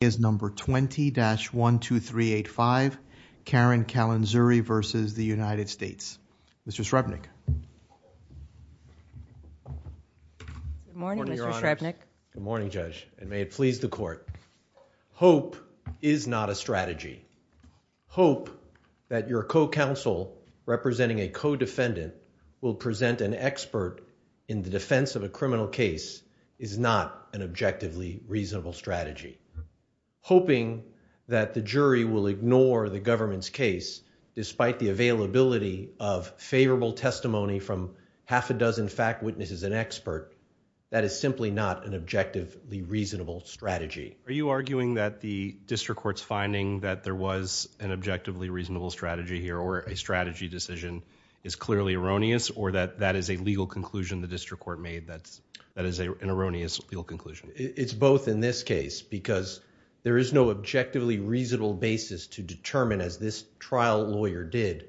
is number 20-12385 Karen Kallen-Zurry versus the United States. Mr. Shrevenick. Good morning, Mr. Shrevenick. Good morning, Judge, and may it please the court. Hope is not a strategy. Hope that your co-counsel representing a co-defendant will present an hoping that the jury will ignore the government's case despite the availability of favorable testimony from half a dozen fact witnesses and expert. That is simply not an objectively reasonable strategy. Are you arguing that the district court's finding that there was an objectively reasonable strategy here or a strategy decision is clearly erroneous or that that is a legal conclusion the district court made that that is an erroneous legal conclusion? It's both in this case because there is no objectively reasonable basis to determine as this trial lawyer did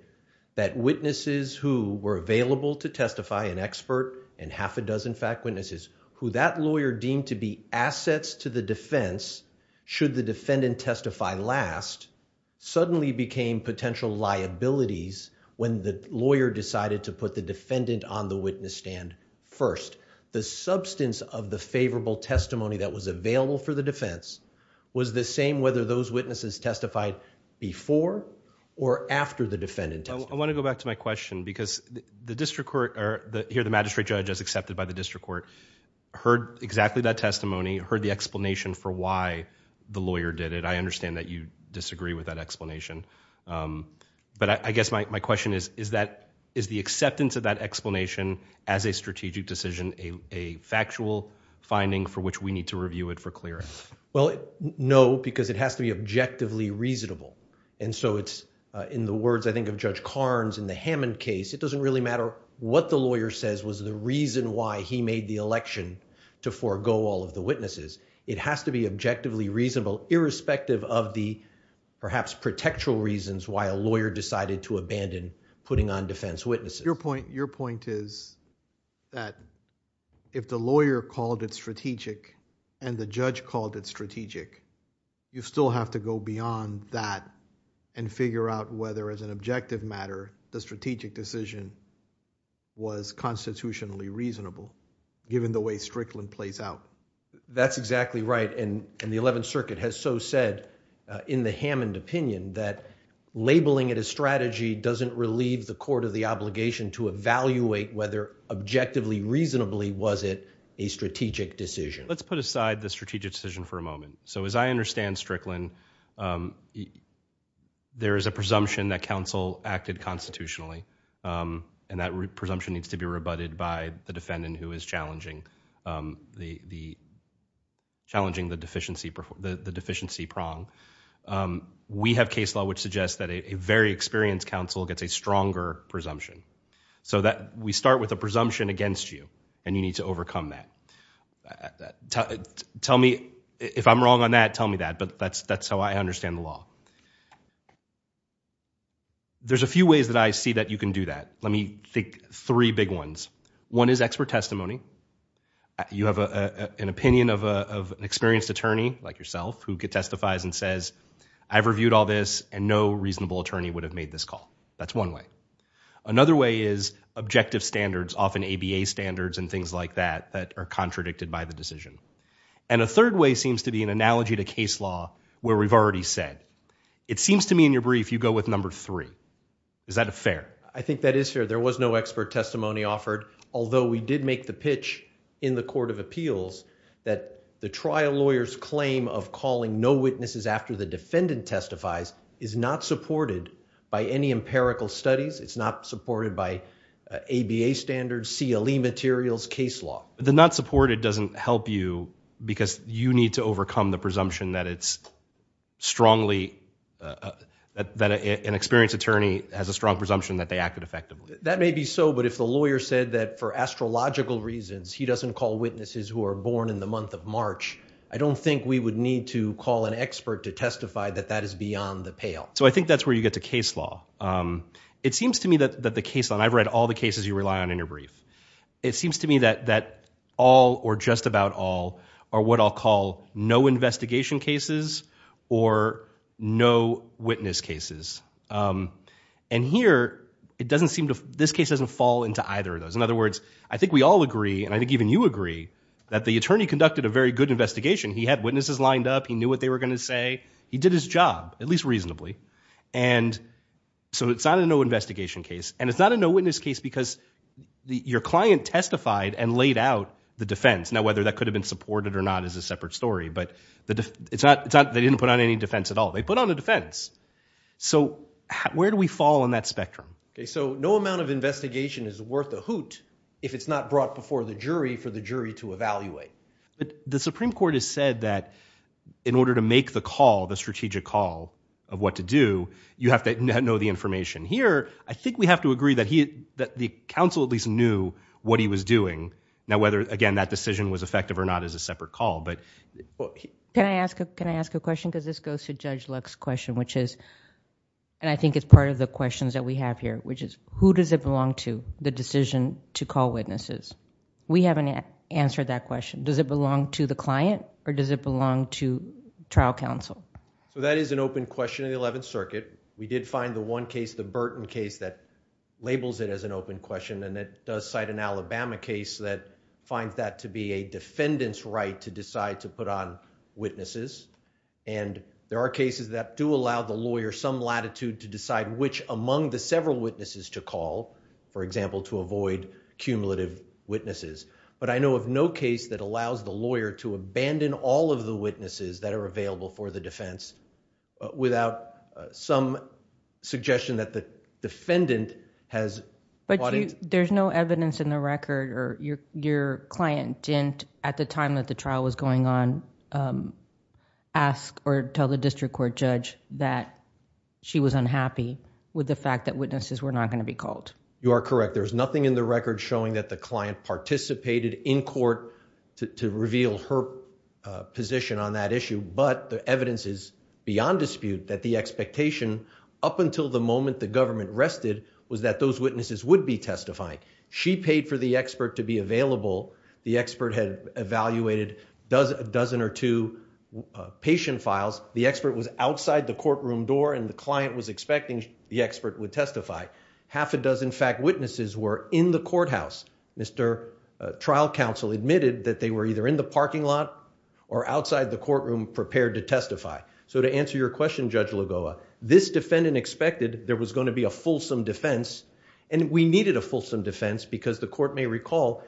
that witnesses who were available to testify an expert and half a dozen fact witnesses who that lawyer deemed to be assets to the defense should the defendant testify last suddenly became potential liabilities when the lawyer decided to put the defendant on the for the defense was the same whether those witnesses testified before or after the defendant. I want to go back to my question because the district court or the here the magistrate judge as accepted by the district court heard exactly that testimony, heard the explanation for why the lawyer did it. I understand that you disagree with that explanation, but I guess my question is that is the acceptance of that explanation as a strategic decision a factual finding for which we need to review it for clearance? Well, no because it has to be objectively reasonable and so it's in the words I think of Judge Karnes in the Hammond case it doesn't really matter what the lawyer says was the reason why he made the election to forego all of the witnesses. It has to be objectively reasonable irrespective of the perhaps protectural reasons why a lawyer decided to abandon putting on defense witnesses. Your point is that if the lawyer called it strategic and the judge called it strategic you still have to go beyond that and figure out whether as an objective matter the strategic decision was constitutionally reasonable given the way Strickland plays out. That's exactly right and the 11th circuit has so said in the Hammond opinion that labeling it a strategy doesn't relieve the court of the obligation to evaluate whether objectively reasonably was it a strategic decision. Let's put aside the strategic decision for a moment. So as I understand Strickland there is a presumption that counsel acted constitutionally and that presumption needs to be rebutted by the defendant who is challenging the deficiency prong. We have case law which suggests that a very experienced counsel gets a stronger presumption so that we start with a presumption against you and you need to overcome that. Tell me if I'm wrong on that tell me that but that's that's how I understand the law. There's a few ways that I see that you can do that. Let me think three big ones. One is expert testimony. You have an opinion of an experienced attorney like yourself who testifies and says I've reviewed all this and no reasonable attorney would have made this call. That's one way. Another way is objective standards often ABA standards and things like that that are contradicted by the decision. And a third way seems to be an analogy to case law where we've already said it seems to me in your brief you go with number three. Is that a fair? I think that is fair there was no expert testimony offered although we did make the pitch in the court of appeals that the trial lawyer's claim of calling no witnesses after the defendant testifies is not supported by any empirical studies. It's not supported by ABA standards, CLE materials, case law. The not supported doesn't help you because you need to overcome the presumption that it's strongly that an experienced attorney has a strong presumption that they acted effectively. That may be so but if the lawyer said that for astrological reasons he doesn't call witnesses who are born in the month of March I don't think we would need to call an expert to testify that that is beyond the pale. So I think that's where you get to case law. It seems to me that that the case on I've read all the cases you rely on in your brief. It seems to me that that all or just about all are what I'll call no witness cases. And here it doesn't seem to this case doesn't fall into either of those. In other words I think we all agree and I think even you agree that the attorney conducted a very good investigation. He had witnesses lined up. He knew what they were going to say. He did his job at least reasonably and so it's not a no investigation case and it's not a no witness case because your client testified and laid out the defense. Now whether that could have been supported or not is a separate story but it's not they didn't put on any defense at all. They put on a defense so where do we fall on that spectrum? Okay so no amount of investigation is worth a hoot if it's not brought before the jury for the jury to evaluate. But the Supreme Court has said that in order to make the call the strategic call of what to do you have to know the information. Here I think we have to agree that he that the counsel at least knew what he was doing. Now whether again that decision was effective or not is a separate call but. Can I ask a question because this goes to Judge Luck's question which is and I think it's part of the questions that we have here which is who does it belong to the decision to call witnesses? We haven't answered that question. Does it belong to the client or does it belong to trial counsel? So that is an open question in the Eleventh Circuit. We did find the one case the Burton case that labels it as an open question and it does cite an Alabama case that finds that to be a defendant's right to decide to put on and there are cases that do allow the lawyer some latitude to decide which among the several witnesses to call for example to avoid cumulative witnesses. But I know of no case that allows the lawyer to abandon all of the witnesses that are available for the defense without some suggestion that the defendant has. But there's no evidence in the record or your your client didn't at the time that the trial was going on ask or tell the district court judge that she was unhappy with the fact that witnesses were not going to be called. You are correct. There's nothing in the record showing that the client participated in court to reveal her position on that issue but the evidence is beyond dispute that the expectation up until the moment the government rested was that those witnesses would be testifying. She paid for the expert to be available. The expert had evaluated a dozen or two patient files. The expert was outside the courtroom door and the client was expecting the expert would testify. Half a dozen fact witnesses were in the courthouse. Mr. trial counsel admitted that they were either in the parking lot or outside the courtroom prepared to testify. So to answer your question Judge Lagoa, this defendant expected there was going to be a fulsome defense and we needed a fulsome defense because the court may was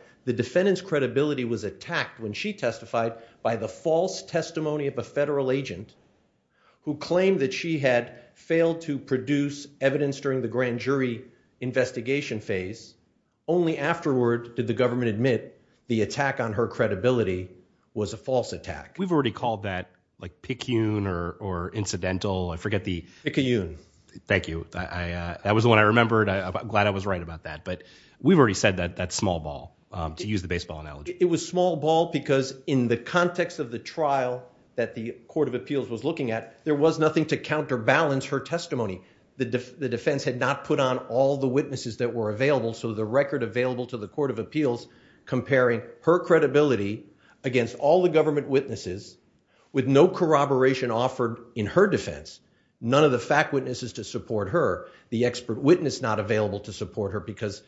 attacked when she testified by the false testimony of a federal agent who claimed that she had failed to produce evidence during the grand jury investigation phase. Only afterward did the government admit the attack on her credibility was a false attack. We've already called that like pick you or or incidental. I forget the thank you. I that was the one I remembered. I'm glad I was right about that but we've already said that that small ball to use the baseball analogy. It was small ball because in the context of the trial that the court of appeals was looking at there was nothing to counterbalance her testimony. The defense had not put on all the witnesses that were available so the record available to the court of appeals comparing her credibility against all the government witnesses with no corroboration offered in her defense. None of the fact witnesses to support her. The expert witness not available to support her because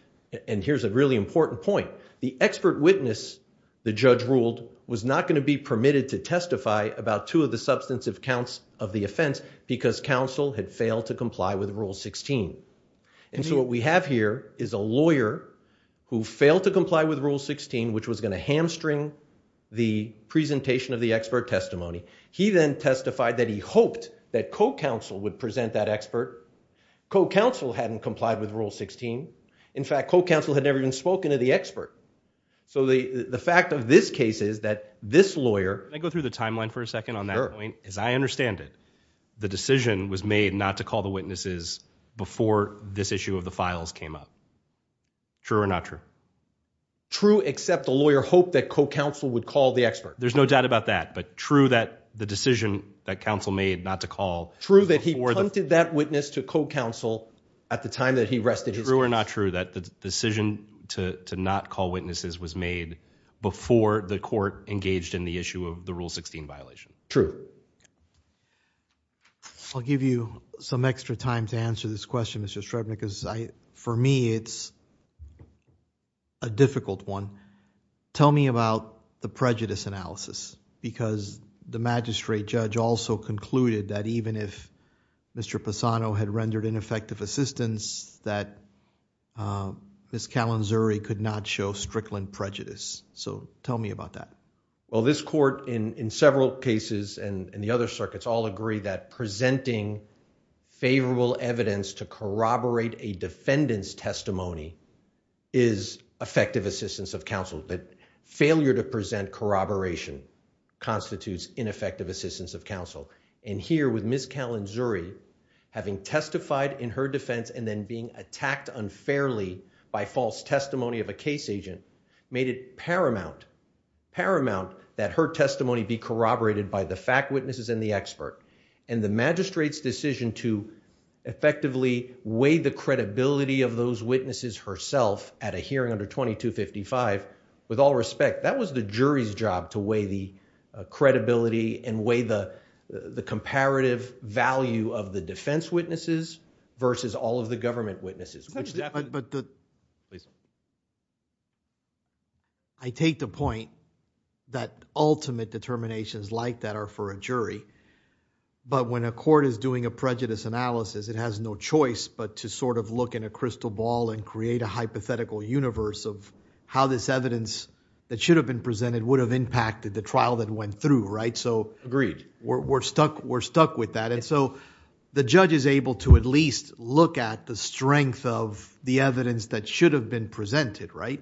and here's a really important point. The expert witness the judge ruled was not going to be permitted to testify about two of the substantive counts of the offense because counsel had failed to comply with rule 16. And so what we have here is a lawyer who failed to comply with rule 16 which was going to hamstring the presentation of the expert testimony. He then testified that he hoped that co-counsel would present that expert. Co-counsel hadn't complied with rule 16. In fact co-counsel had never even spoken to the expert. So the the fact of this case is that this lawyer. Can I go through the timeline for a second on that point? As I understand it the decision was made not to call the witnesses before this issue of the files came up. True or not true? True except the lawyer hoped that co-counsel would call the expert. There's no doubt about that but true that the decision that counsel made not to call. True that he wanted that witness to co-counsel at the time that he rested. True or not true that the decision to not call witnesses was made before the court engaged in the issue of the rule 16 violation? True. I'll give you some extra time to answer this question Mr. Strebnick. For me it's a difficult one. Tell me about the prejudice analysis because the magistrate judge also concluded that even if Mr. Pisano had rendered ineffective assistance that Ms. Calanzuri could not show strickland prejudice. So tell me about that. Well this court in in several cases and in the other circuits all agree that presenting favorable evidence to corroborate a defendant's testimony is effective assistance of counsel. But failure to present corroboration constitutes ineffective assistance of counsel. And here with Ms. Calanzuri having testified in her defense and then being attacked unfairly by false testimony of a case agent made it paramount paramount that her testimony be corroborated by the fact witnesses and the expert. And the magistrate's decision to effectively weigh the credibility of those witnesses herself at a hearing under 2255 with all respect that was the jury's job to weigh the credibility and weigh the the comparative value of the defense witnesses versus all of the government witnesses. I take the point that ultimate determinations like that are for a jury but when a court is doing a prejudice analysis it has no choice but to sort of look in a crystal ball and create a hypothetical universe of how this evidence that should have been presented would have impacted the trial that went through right? So agreed. We're stuck we're stuck with that and so the judge is able to at least look at the strength of the evidence that should have been presented right?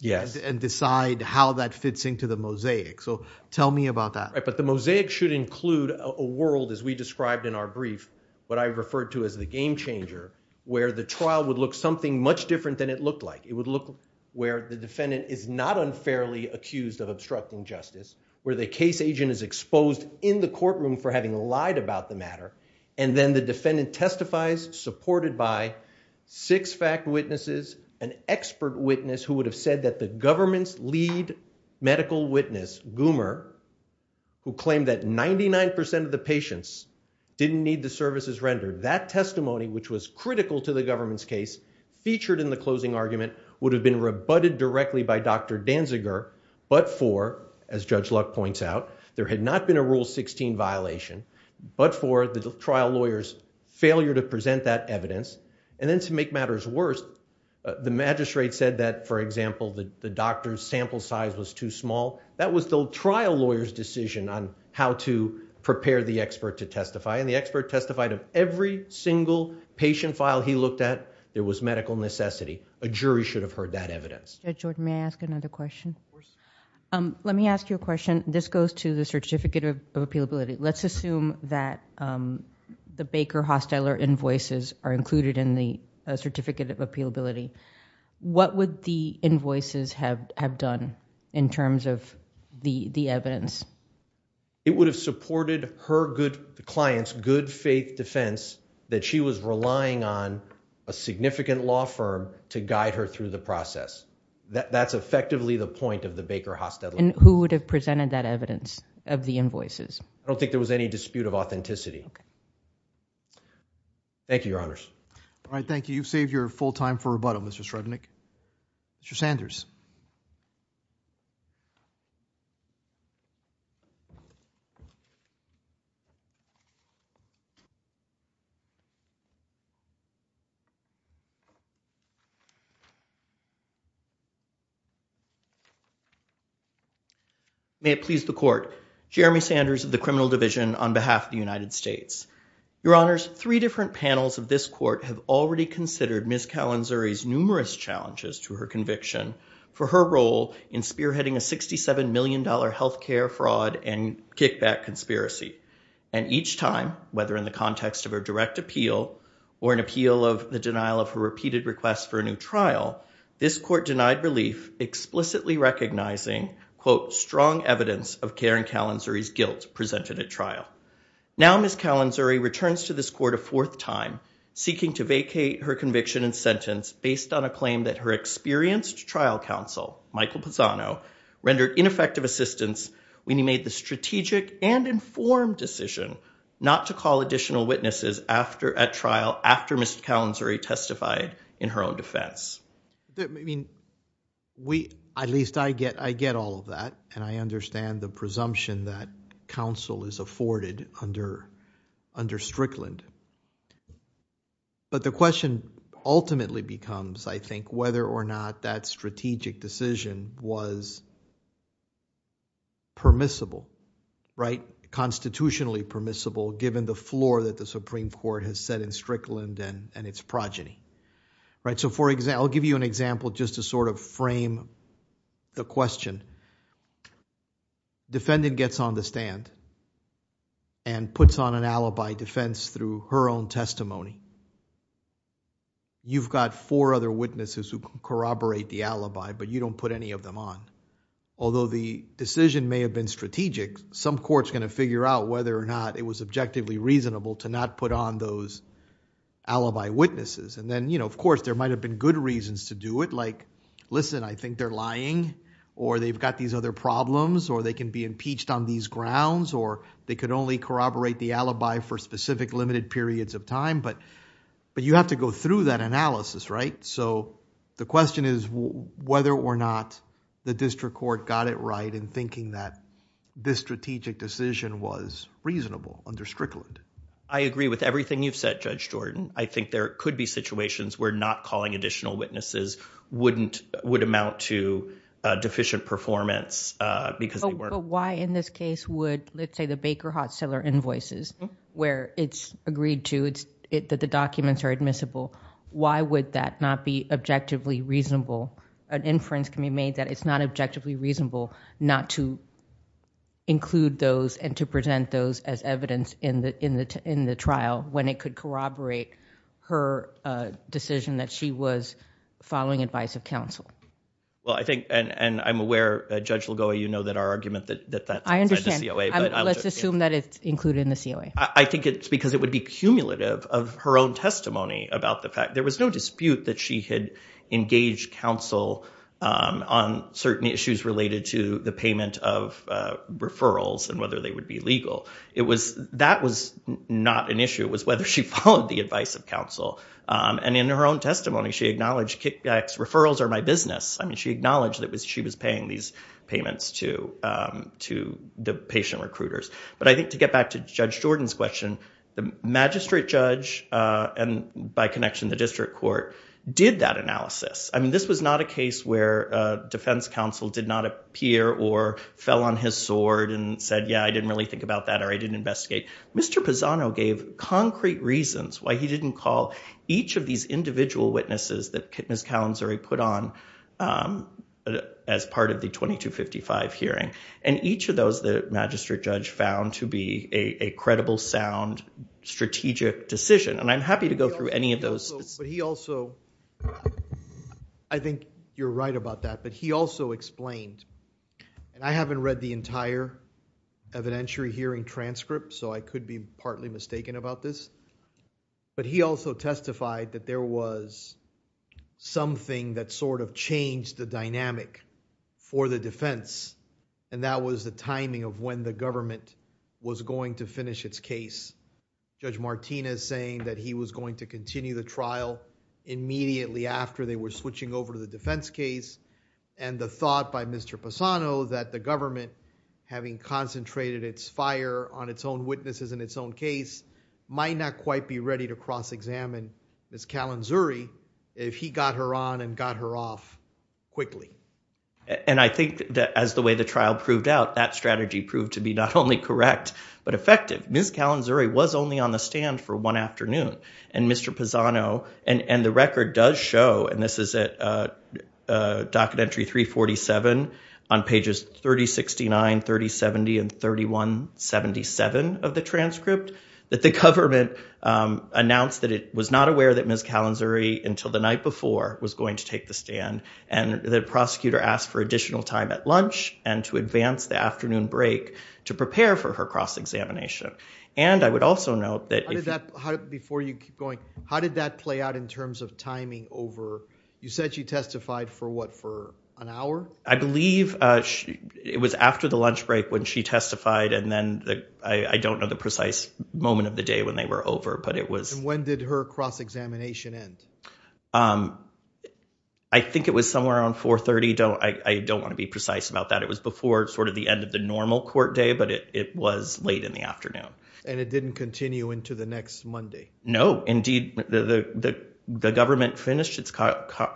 Yes. And decide how that fits into the mosaic so tell me about that. Right but the mosaic should include a world as we described in our brief what I referred to as the game changer where the trial would look something much different than it looked like. It would look where the defendant is not unfairly accused of obstructing justice where the case agent is exposed in the courtroom for having lied about the matter and then the defendant testifies supported by six fact witnesses an expert witness who would have said that the government's lead medical witness Goomer who claimed that 99 of the patients didn't need the services rendered. That testimony which was critical to the government's case featured in the closing argument would have been rebutted directly by Dr. Danziger but for as Judge Luck points out there had not been a rule 16 violation but for the trial lawyer's failure to present that evidence and then to make matters worse the magistrate said that for example the doctor's sample size was too small that was the trial lawyer's decision on how to prepare the expert to testify and the expert testified of every single patient file he looked at there was medical necessity. A jury should have heard that evidence. Jordan may I ask another question? Let me ask you a question. This goes to the certificate of appealability. Let's assume that the Baker Hostiler invoices are included in the certificate of appealability. What would the invoices have have done in terms of the the evidence? It would have supported her good client's good faith defense that she was relying on a significant law firm to guide her through the process. That's effectively the point of the Baker Hostiler. And who would have presented that evidence of the invoices? I don't think there was any dispute of authenticity. Thank you your honors. All right thank you. You've saved your full time for rebuttal Mr. Srednick. Mr. Sanders. May it please the court. Jeremy Sanders of the criminal division on behalf of the United States. Your honors, three different panels of this court have already considered Ms. Calanzuri's numerous challenges to her conviction for her role in spearheading a 67 million dollar health care fraud and kickback conspiracy. And each time, whether in the context of a direct appeal or an appeal of the denial of her repeated requests for a new trial, this court denied relief explicitly recognizing quote strong evidence of Karen Calanzuri's guilt presented at trial. Now Ms. Calanzuri returns to this court a fourth time seeking to vacate her conviction and sentence based on a claim that her experienced trial counsel Michael Pisano rendered ineffective assistance when he made the strategic and informed decision not to call additional witnesses after at trial after Ms. Calanzuri testified in her own defense. I mean we at least I get all of that and I understand the presumption that counsel is afforded under Strickland. But the question ultimately becomes I think whether or not that strategic decision was permissible right constitutionally permissible given the floor that the Supreme Court has set in Strickland and and its progeny right. So for example I'll give you an example just to sort of the question. Defendant gets on the stand and puts on an alibi defense through her own testimony. You've got four other witnesses who corroborate the alibi but you don't put any of them on. Although the decision may have been strategic some court's going to figure out whether or not it was objectively reasonable to not put on those alibi witnesses and then you know of course there might have been good reasons to do it like listen I think they're lying or they've got these other problems or they can be impeached on these grounds or they could only corroborate the alibi for specific limited periods of time but but you have to go through that analysis right. So the question is whether or not the district court got it right in thinking that this strategic decision was reasonable under Strickland. I agree with everything you've said Judge Jordan. I think there could be situations where not calling additional witnesses wouldn't would amount to deficient performance because they weren't. But why in this case would let's say the Baker Hot Cellar invoices where it's agreed to it's it that the documents are admissible. Why would that not be objectively reasonable? An inference can be made that it's not objectively reasonable not to include those and to present those as evidence in the in the in the trial when it could corroborate her decision that she was following advice of counsel. Well I think and and I'm aware Judge Ligoa you know that our argument that that I understand let's assume that it's included in the COA. I think it's because it would be cumulative of her own testimony about the fact there was no dispute that she had engaged counsel on certain issues related to the payment of referrals and whether they would be legal. It was that was not an issue was whether she followed the advice of counsel and in her own testimony she acknowledged kickbacks referrals are my business. I mean she acknowledged that was she was paying these payments to to the patient recruiters. But I think to get back to Judge Jordan's question the magistrate judge and by connection the district court did that analysis. I mean this was not a case where defense counsel did not appear or fell on his side. I didn't really think about that or I didn't investigate. Mr. Pisano gave concrete reasons why he didn't call each of these individual witnesses that Ms. Calanzari put on as part of the 2255 hearing and each of those the magistrate judge found to be a credible sound strategic decision and I'm happy to go through any of those. But he also I think you're right about that but he also explained and I haven't read the entire evidentiary hearing transcript so I could be partly mistaken about this but he also testified that there was something that sort of changed the dynamic for the defense and that was the timing of when the government was going to finish its case. Judge Martinez saying that he was going to continue the trial immediately after they were switching over the defense case and the thought by Mr. Pisano that the government having concentrated its fire on its own witnesses in its own case might not quite be ready to cross-examine Ms. Calanzari if he got her on and got her off quickly. And I think that as the way the trial proved out that strategy proved to be not only correct but effective. Ms. Calanzari was only on the stand for one afternoon and Mr. Pisano and the record does show and this is at docket entry 347 on pages 3069, 3070, and 3177 of the transcript that the government announced that it was not aware that Ms. Calanzari until the night before was going to take the stand and the prosecutor asked for additional time at lunch and to advance the afternoon break to prepare for her cross examination. And I would also note that before you keep going how did that play out in terms of timing over you said she testified for what for an hour? I believe it was after the lunch break when she testified and then I don't know the precise moment of the day when they were over but it was when did her cross-examination end? I think it was somewhere on 4 30 don't I don't want to be precise about that it was before sort of the end of the normal court day but it was late in the afternoon. And it didn't continue into the next Monday? No indeed the the the government finished its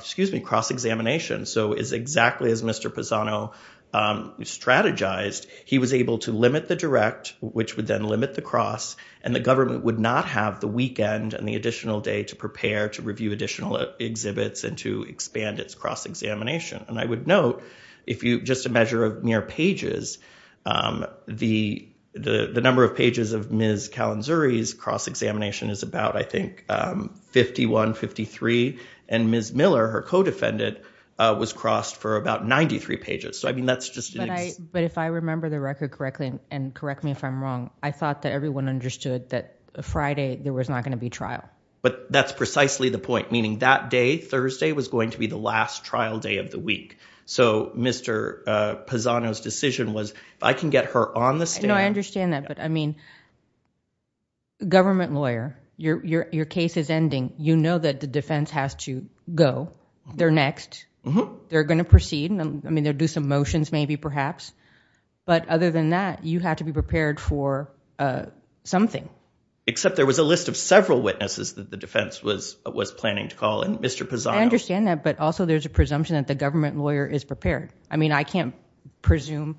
excuse me cross-examination so is exactly as Mr. Pisano strategized he was able to limit the direct which would then limit the cross and the government would not have the weekend and the additional day to prepare to review additional exhibits and to expand its cross-examination and I would note if you just a measure of mere pages the the the number of pages of Ms. Kalinzuri's cross-examination is about I think 51 53 and Ms. Miller her co-defendant was crossed for about 93 pages so I mean that's just. But if I remember the record correctly and correct me if I'm wrong I thought that everyone understood that Friday there was not going to be trial. But that's the last trial day of the week so Mr. Pisano's decision was I can get her on the stand. No I understand that but I mean government lawyer your your your case is ending you know that the defense has to go they're next they're going to proceed and I mean they'll do some motions maybe perhaps but other than that you have to be prepared for something. Except there was a list of several but also there's a presumption that the government lawyer is prepared. I mean I can't presume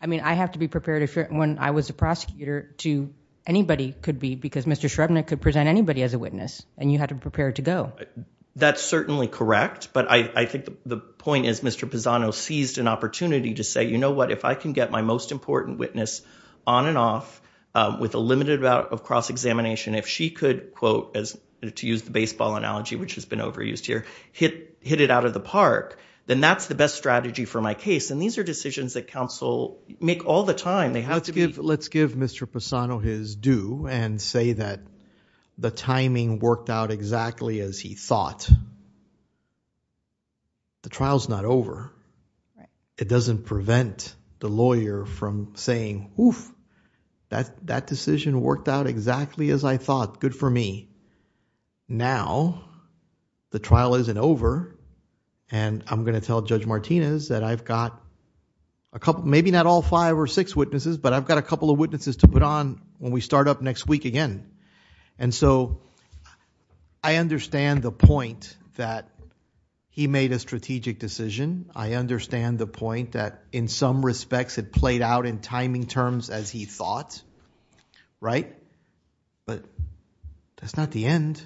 I mean I have to be prepared if when I was a prosecutor to anybody could be because Mr. Shrevenick could present anybody as a witness and you had to be prepared to go. That's certainly correct but I I think the point is Mr. Pisano seized an opportunity to say you know what if I can get my most important witness on and off with a limited amount of cross-examination if she could quote as to use the baseball analogy which has been overused here hit hit it out of the park then that's the best strategy for my case and these are decisions that counsel make all the time they have to be. Let's give let's give Mr. Pisano his due and say that the timing worked out exactly as he thought. The trial's not over. It doesn't prevent the lawyer from saying oof that that decision worked out exactly as I thought good for me. Now the trial isn't over and I'm gonna tell Judge Martinez that I've got a couple maybe not all five or six witnesses but I've got a couple of witnesses to put on when we start up next week again and so I understand the point that he made a strategic decision. I understand the point that in some respects it played out in timing terms as he thought right but that's not the end.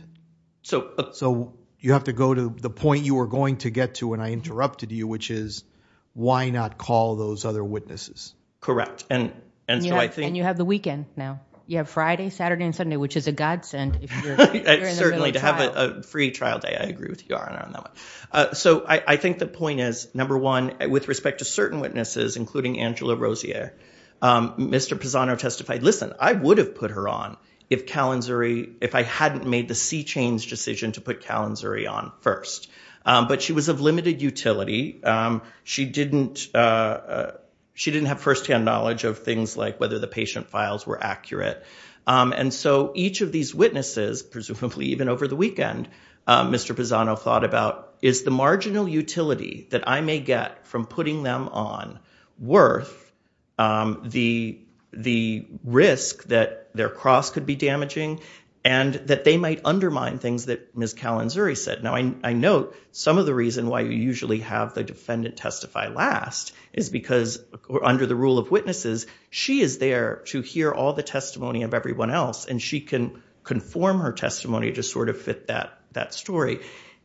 So so you have to go to the point you were going to get to when I interrupted you which is why not call those other witnesses. Correct and and so I think you have the weekend now you have Friday Saturday and Sunday which is a godsend. Certainly to have a free trial day I agree with you on that one. So I think the point is number one with respect to listen I would have put her on if Kalinzuri if I hadn't made the c-chains decision to put Kalinzuri on first but she was of limited utility. She didn't have first-hand knowledge of things like whether the patient files were accurate and so each of these witnesses presumably even over the weekend Mr. Pisano thought about is the marginal utility that I may get from putting them on the the risk that their cross could be damaging and that they might undermine things that Ms. Kalinzuri said. Now I note some of the reason why you usually have the defendant testify last is because under the rule of witnesses she is there to hear all the testimony of everyone else and she can conform her testimony to sort of fit that that story.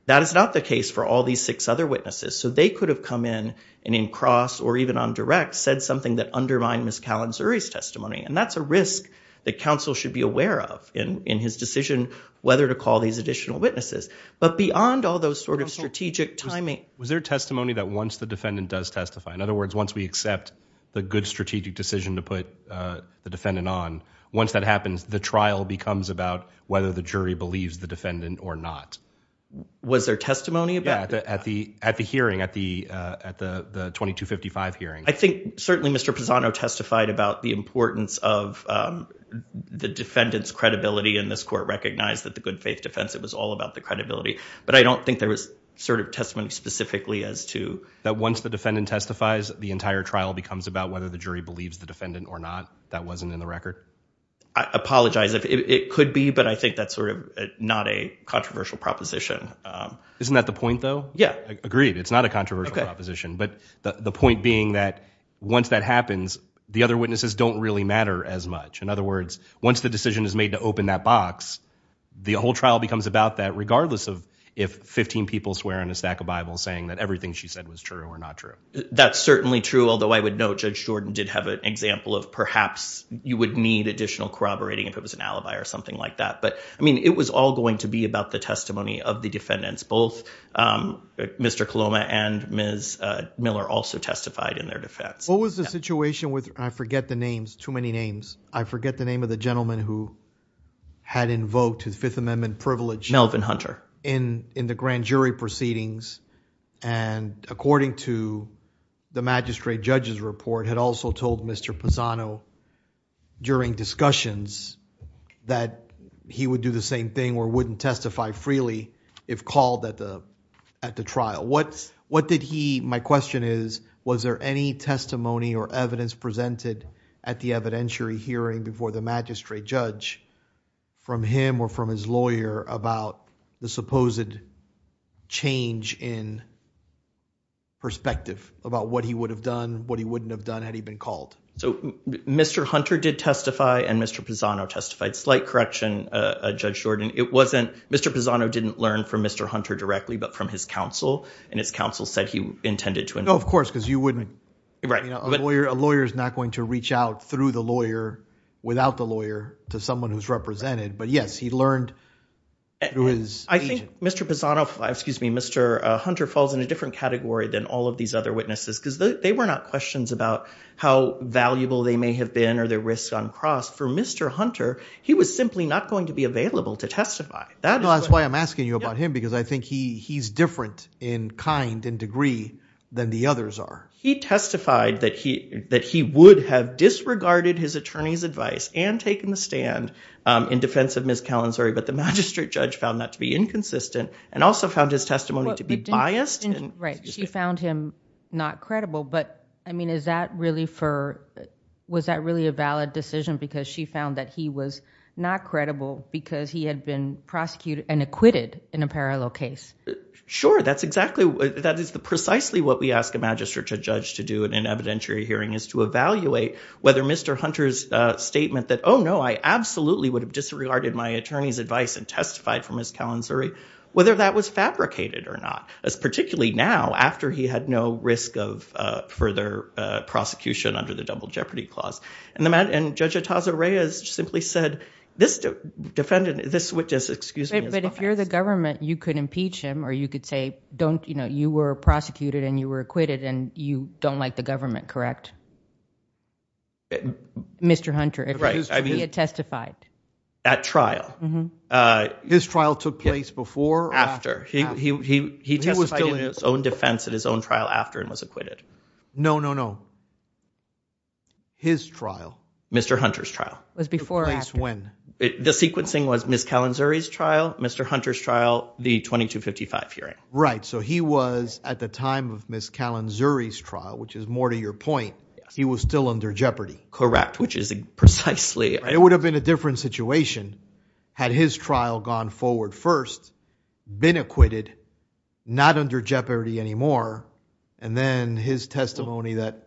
That is not the case for all these other witnesses so they could have come in and in cross or even on direct said something that undermined Ms. Kalinzuri's testimony and that's a risk that counsel should be aware of in in his decision whether to call these additional witnesses but beyond all those sort of strategic timing. Was there testimony that once the defendant does testify in other words once we accept the good strategic decision to put the defendant on once that happens the trial becomes about whether the jury believes the defendant or not. Was there testimony about that at the at the hearing at the uh at the the 2255 hearing? I think certainly Mr. Pisano testified about the importance of um the defendant's credibility and this court recognized that the good faith defense it was all about the credibility but I don't think there was sort of testimony specifically as to that once the defendant testifies the entire trial becomes about whether the jury believes the defendant or not that wasn't in the record. I apologize if it could be but I think that's sort of not a controversial proposition. Isn't that the point though? Yeah. Agreed it's not a controversial proposition but the the point being that once that happens the other witnesses don't really matter as much in other words once the decision is made to open that box the whole trial becomes about that regardless of if 15 people swear on a stack of bibles saying that everything she said was true or not true. That's certainly true although I would note Judge Jordan did have an example of perhaps you would need additional corroborating if it was an alibi or something like that but I mean it was all going to be about the testimony of the defendants both Mr. Coloma and Ms. Miller also testified in their defense. What was the situation with I forget the names too many names I forget the name of the gentleman who had invoked his fifth amendment privilege Melvin Hunter in in the grand jury proceedings and according to the magistrate judge's report had also told Mr. Pisano during discussions that he would do the same thing or wouldn't testify freely if called at the at the trial. What what did he my question is was there any testimony or evidence presented at the evidentiary hearing before the magistrate judge from him or from his lawyer about the supposed change in perspective about what he would have done what he wouldn't have done had he been called? So Mr. Hunter did testify and Mr. Pisano testified slight correction uh Judge Jordan it wasn't Mr. Pisano didn't learn from Mr. Hunter directly but from his counsel and his counsel said he intended to know of course because you wouldn't right you know a lawyer a lawyer is not going to reach out through the lawyer without the lawyer to someone who's represented but yes he learned who is I think Mr. Pisano excuse me Mr. Hunter falls in a different category than all of these other witnesses because they were not questions about how valuable they may have been or their risks on cross for Mr. Hunter he was simply not going to be available to testify. That's why I'm asking you about him because I think he he's different in kind and degree than the others are. He testified that he that he would have disregarded his attorney's advice and taken the stand um in defense of Ms. Callan sorry but the magistrate judge found that to be inconsistent and also found his testimony to be biased and right she found him not credible but I mean is that really for was that really a valid decision because she found that he was not credible because he had been prosecuted and acquitted in a parallel case sure that's exactly that is the precisely what we ask a magistrate judge to do in an evidentiary hearing is to evaluate whether Mr. Hunter's uh statement that oh no I absolutely would have disregarded my attorney's advice and testified for Ms. Callan whether that was fabricated or not as particularly now after he had no risk of uh further uh prosecution under the double jeopardy clause and the man and Judge Ataza Reyes simply said this defendant this would just excuse me but if you're the government you could impeach him or you could say don't you know you were prosecuted and you were acquitted and you don't like the government correct Mr. Hunter right he had testified at trial uh his trial took place before after he he he he was still in his own defense at his own trial after and was acquitted no no no his trial Mr. Hunter's trial was before when the sequencing was Ms. Callan's trial Mr. Hunter's trial the 2255 hearing right so he was at the time of Ms. Callan Zuri's trial which is more to your point he was still under jeopardy correct which is precisely it would have been a different situation had his trial gone forward first been acquitted not under jeopardy anymore and then his testimony that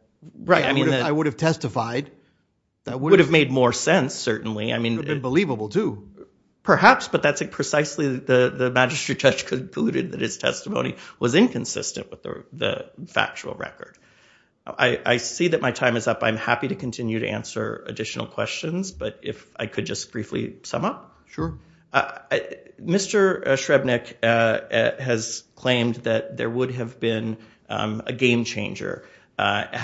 right I mean I would have testified that would have made more sense certainly I mean believable too perhaps but that's it precisely the the magistrate judge concluded that his testimony was inconsistent with the factual record I see that my time is up I'm happy to continue to answer additional questions but if I could just briefly sum up sure Mr. Shrebnik has claimed that there would have been a game changer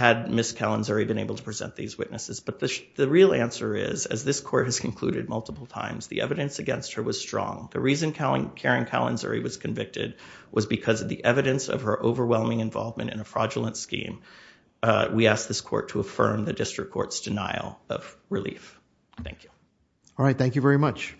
had Ms. Callan Zuri been able to present these witnesses but the real answer is as this court has concluded multiple times the evidence against her was strong the reason Karen Callan Zuri was convicted was because of the evidence of her overwhelming involvement in a fraudulent scheme we ask this court to affirm the district court's denial of relief thank you all right thank you very much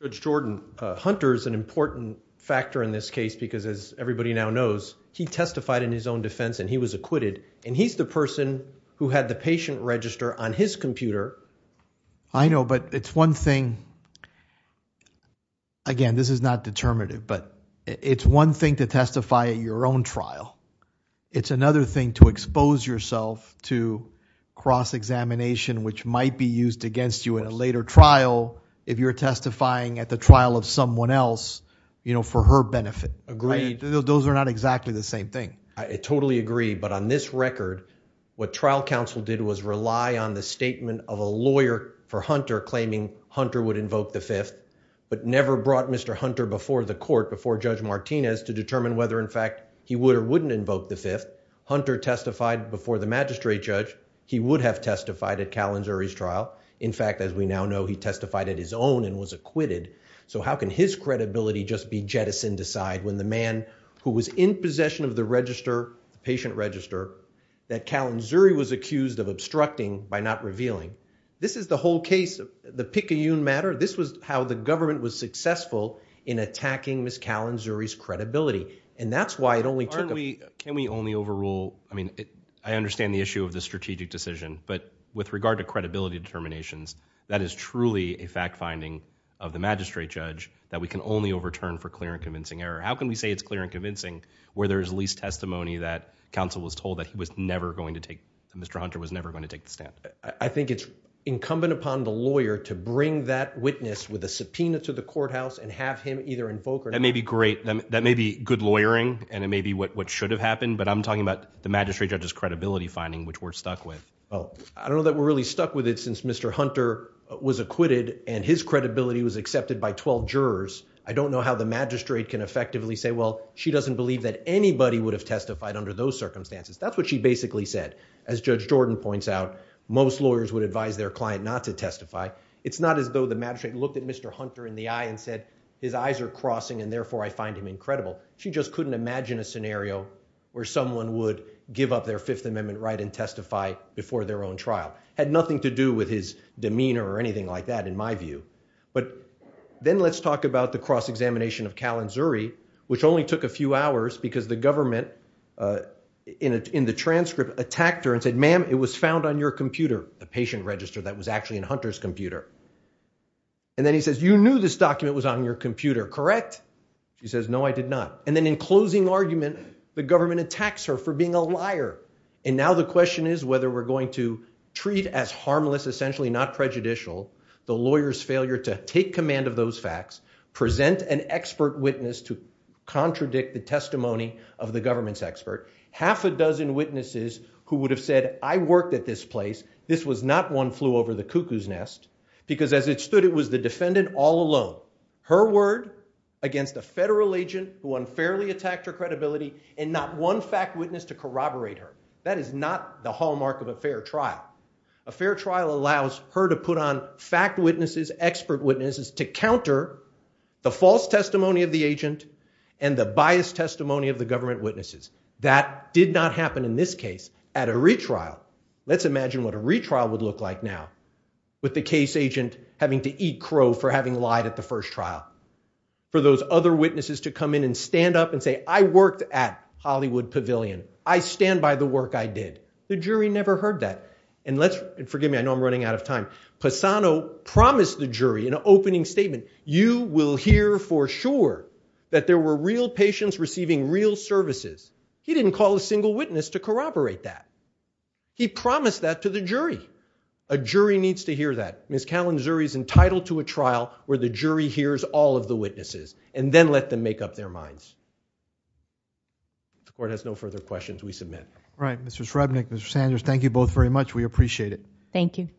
Judge Jordan Hunter is an important factor in this case because as everybody now knows he testified in his own defense and he was acquitted and he's the person who had the patient register on his computer I know but it's one thing again this is not determinative but it's one thing to testify at your own trial it's another thing to expose yourself to cross-examination which might be used against you in a later trial if you're testifying at the trial of someone else you know for her benefit agreed those are not exactly the same thing I totally agree but on this record what trial counsel did was rely on the statement of a lawyer for Hunter claiming Hunter would invoke the fifth but never brought Mr. Hunter before the court before Judge Martinez to determine whether in fact he would or wouldn't invoke the fifth Hunter testified before the magistrate judge he would have testified at Callan Zuri's trial in fact as we now know he testified at his own and was acquitted so how can his credibility just be jettisoned aside when the man who was in possession of the register patient register that Callan Zuri was accused of obstructing by not revealing this is the whole case the Picayune matter this was how the government was successful in attacking Miss Callan Zuri's credibility and that's why it only took can we only overrule I mean I understand the issue of the strategic decision but with regard to of the magistrate judge that we can only overturn for clear and convincing error how can we say it's clear and convincing where there is least testimony that counsel was told that he was never going to take Mr. Hunter was never going to take the stand I think it's incumbent upon the lawyer to bring that witness with a subpoena to the courthouse and have him either invoke or that may be great that may be good lawyering and it may be what what should have happened but I'm talking about the magistrate judge's credibility finding which we're stuck with oh I don't know that we're really stuck with it since Mr. Hunter was acquitted and his credibility was accepted by 12 jurors I don't know how the magistrate can effectively say well she doesn't believe that anybody would have testified under those circumstances that's what she basically said as Judge Jordan points out most lawyers would advise their client not to testify it's not as though the magistrate looked at Mr. Hunter in the eye and said his eyes are crossing and therefore I find him incredible she just couldn't imagine a scenario where someone would give up their fifth amendment right and that has nothing to do with his demeanor or anything like that in my view but then let's talk about the cross-examination of Kalin Zuri which only took a few hours because the government in the transcript attacked her and said ma'am it was found on your computer the patient register that was actually in Hunter's computer and then he says you knew this document was on your computer correct she says no I did not and then in closing argument the government attacks her for being a essentially not prejudicial the lawyer's failure to take command of those facts present an expert witness to contradict the testimony of the government's expert half a dozen witnesses who would have said I worked at this place this was not one flew over the cuckoo's nest because as it stood it was the defendant all alone her word against a federal agent who unfairly attacked her credibility and not one fact witness to corroborate her that is not the hallmark of a fair trial allows her to put on fact witnesses expert witnesses to counter the false testimony of the agent and the biased testimony of the government witnesses that did not happen in this case at a retrial let's imagine what a retrial would look like now with the case agent having to eat crow for having lied at the first trial for those other witnesses to come in and stand up and say I worked at Hollywood Pavilion I stand by the work I did the jury never heard that and let's and forgive me I know I'm running out of time passano promised the jury in an opening statement you will hear for sure that there were real patients receiving real services he didn't call a single witness to corroborate that he promised that to the jury a jury needs to hear that miss kalin zuri is entitled to a trial where the jury hears all of the witnesses and then let them make up their minds the court has no further questions we submit right mr shreve nick mr sanders thank you both very much we appreciate it thank you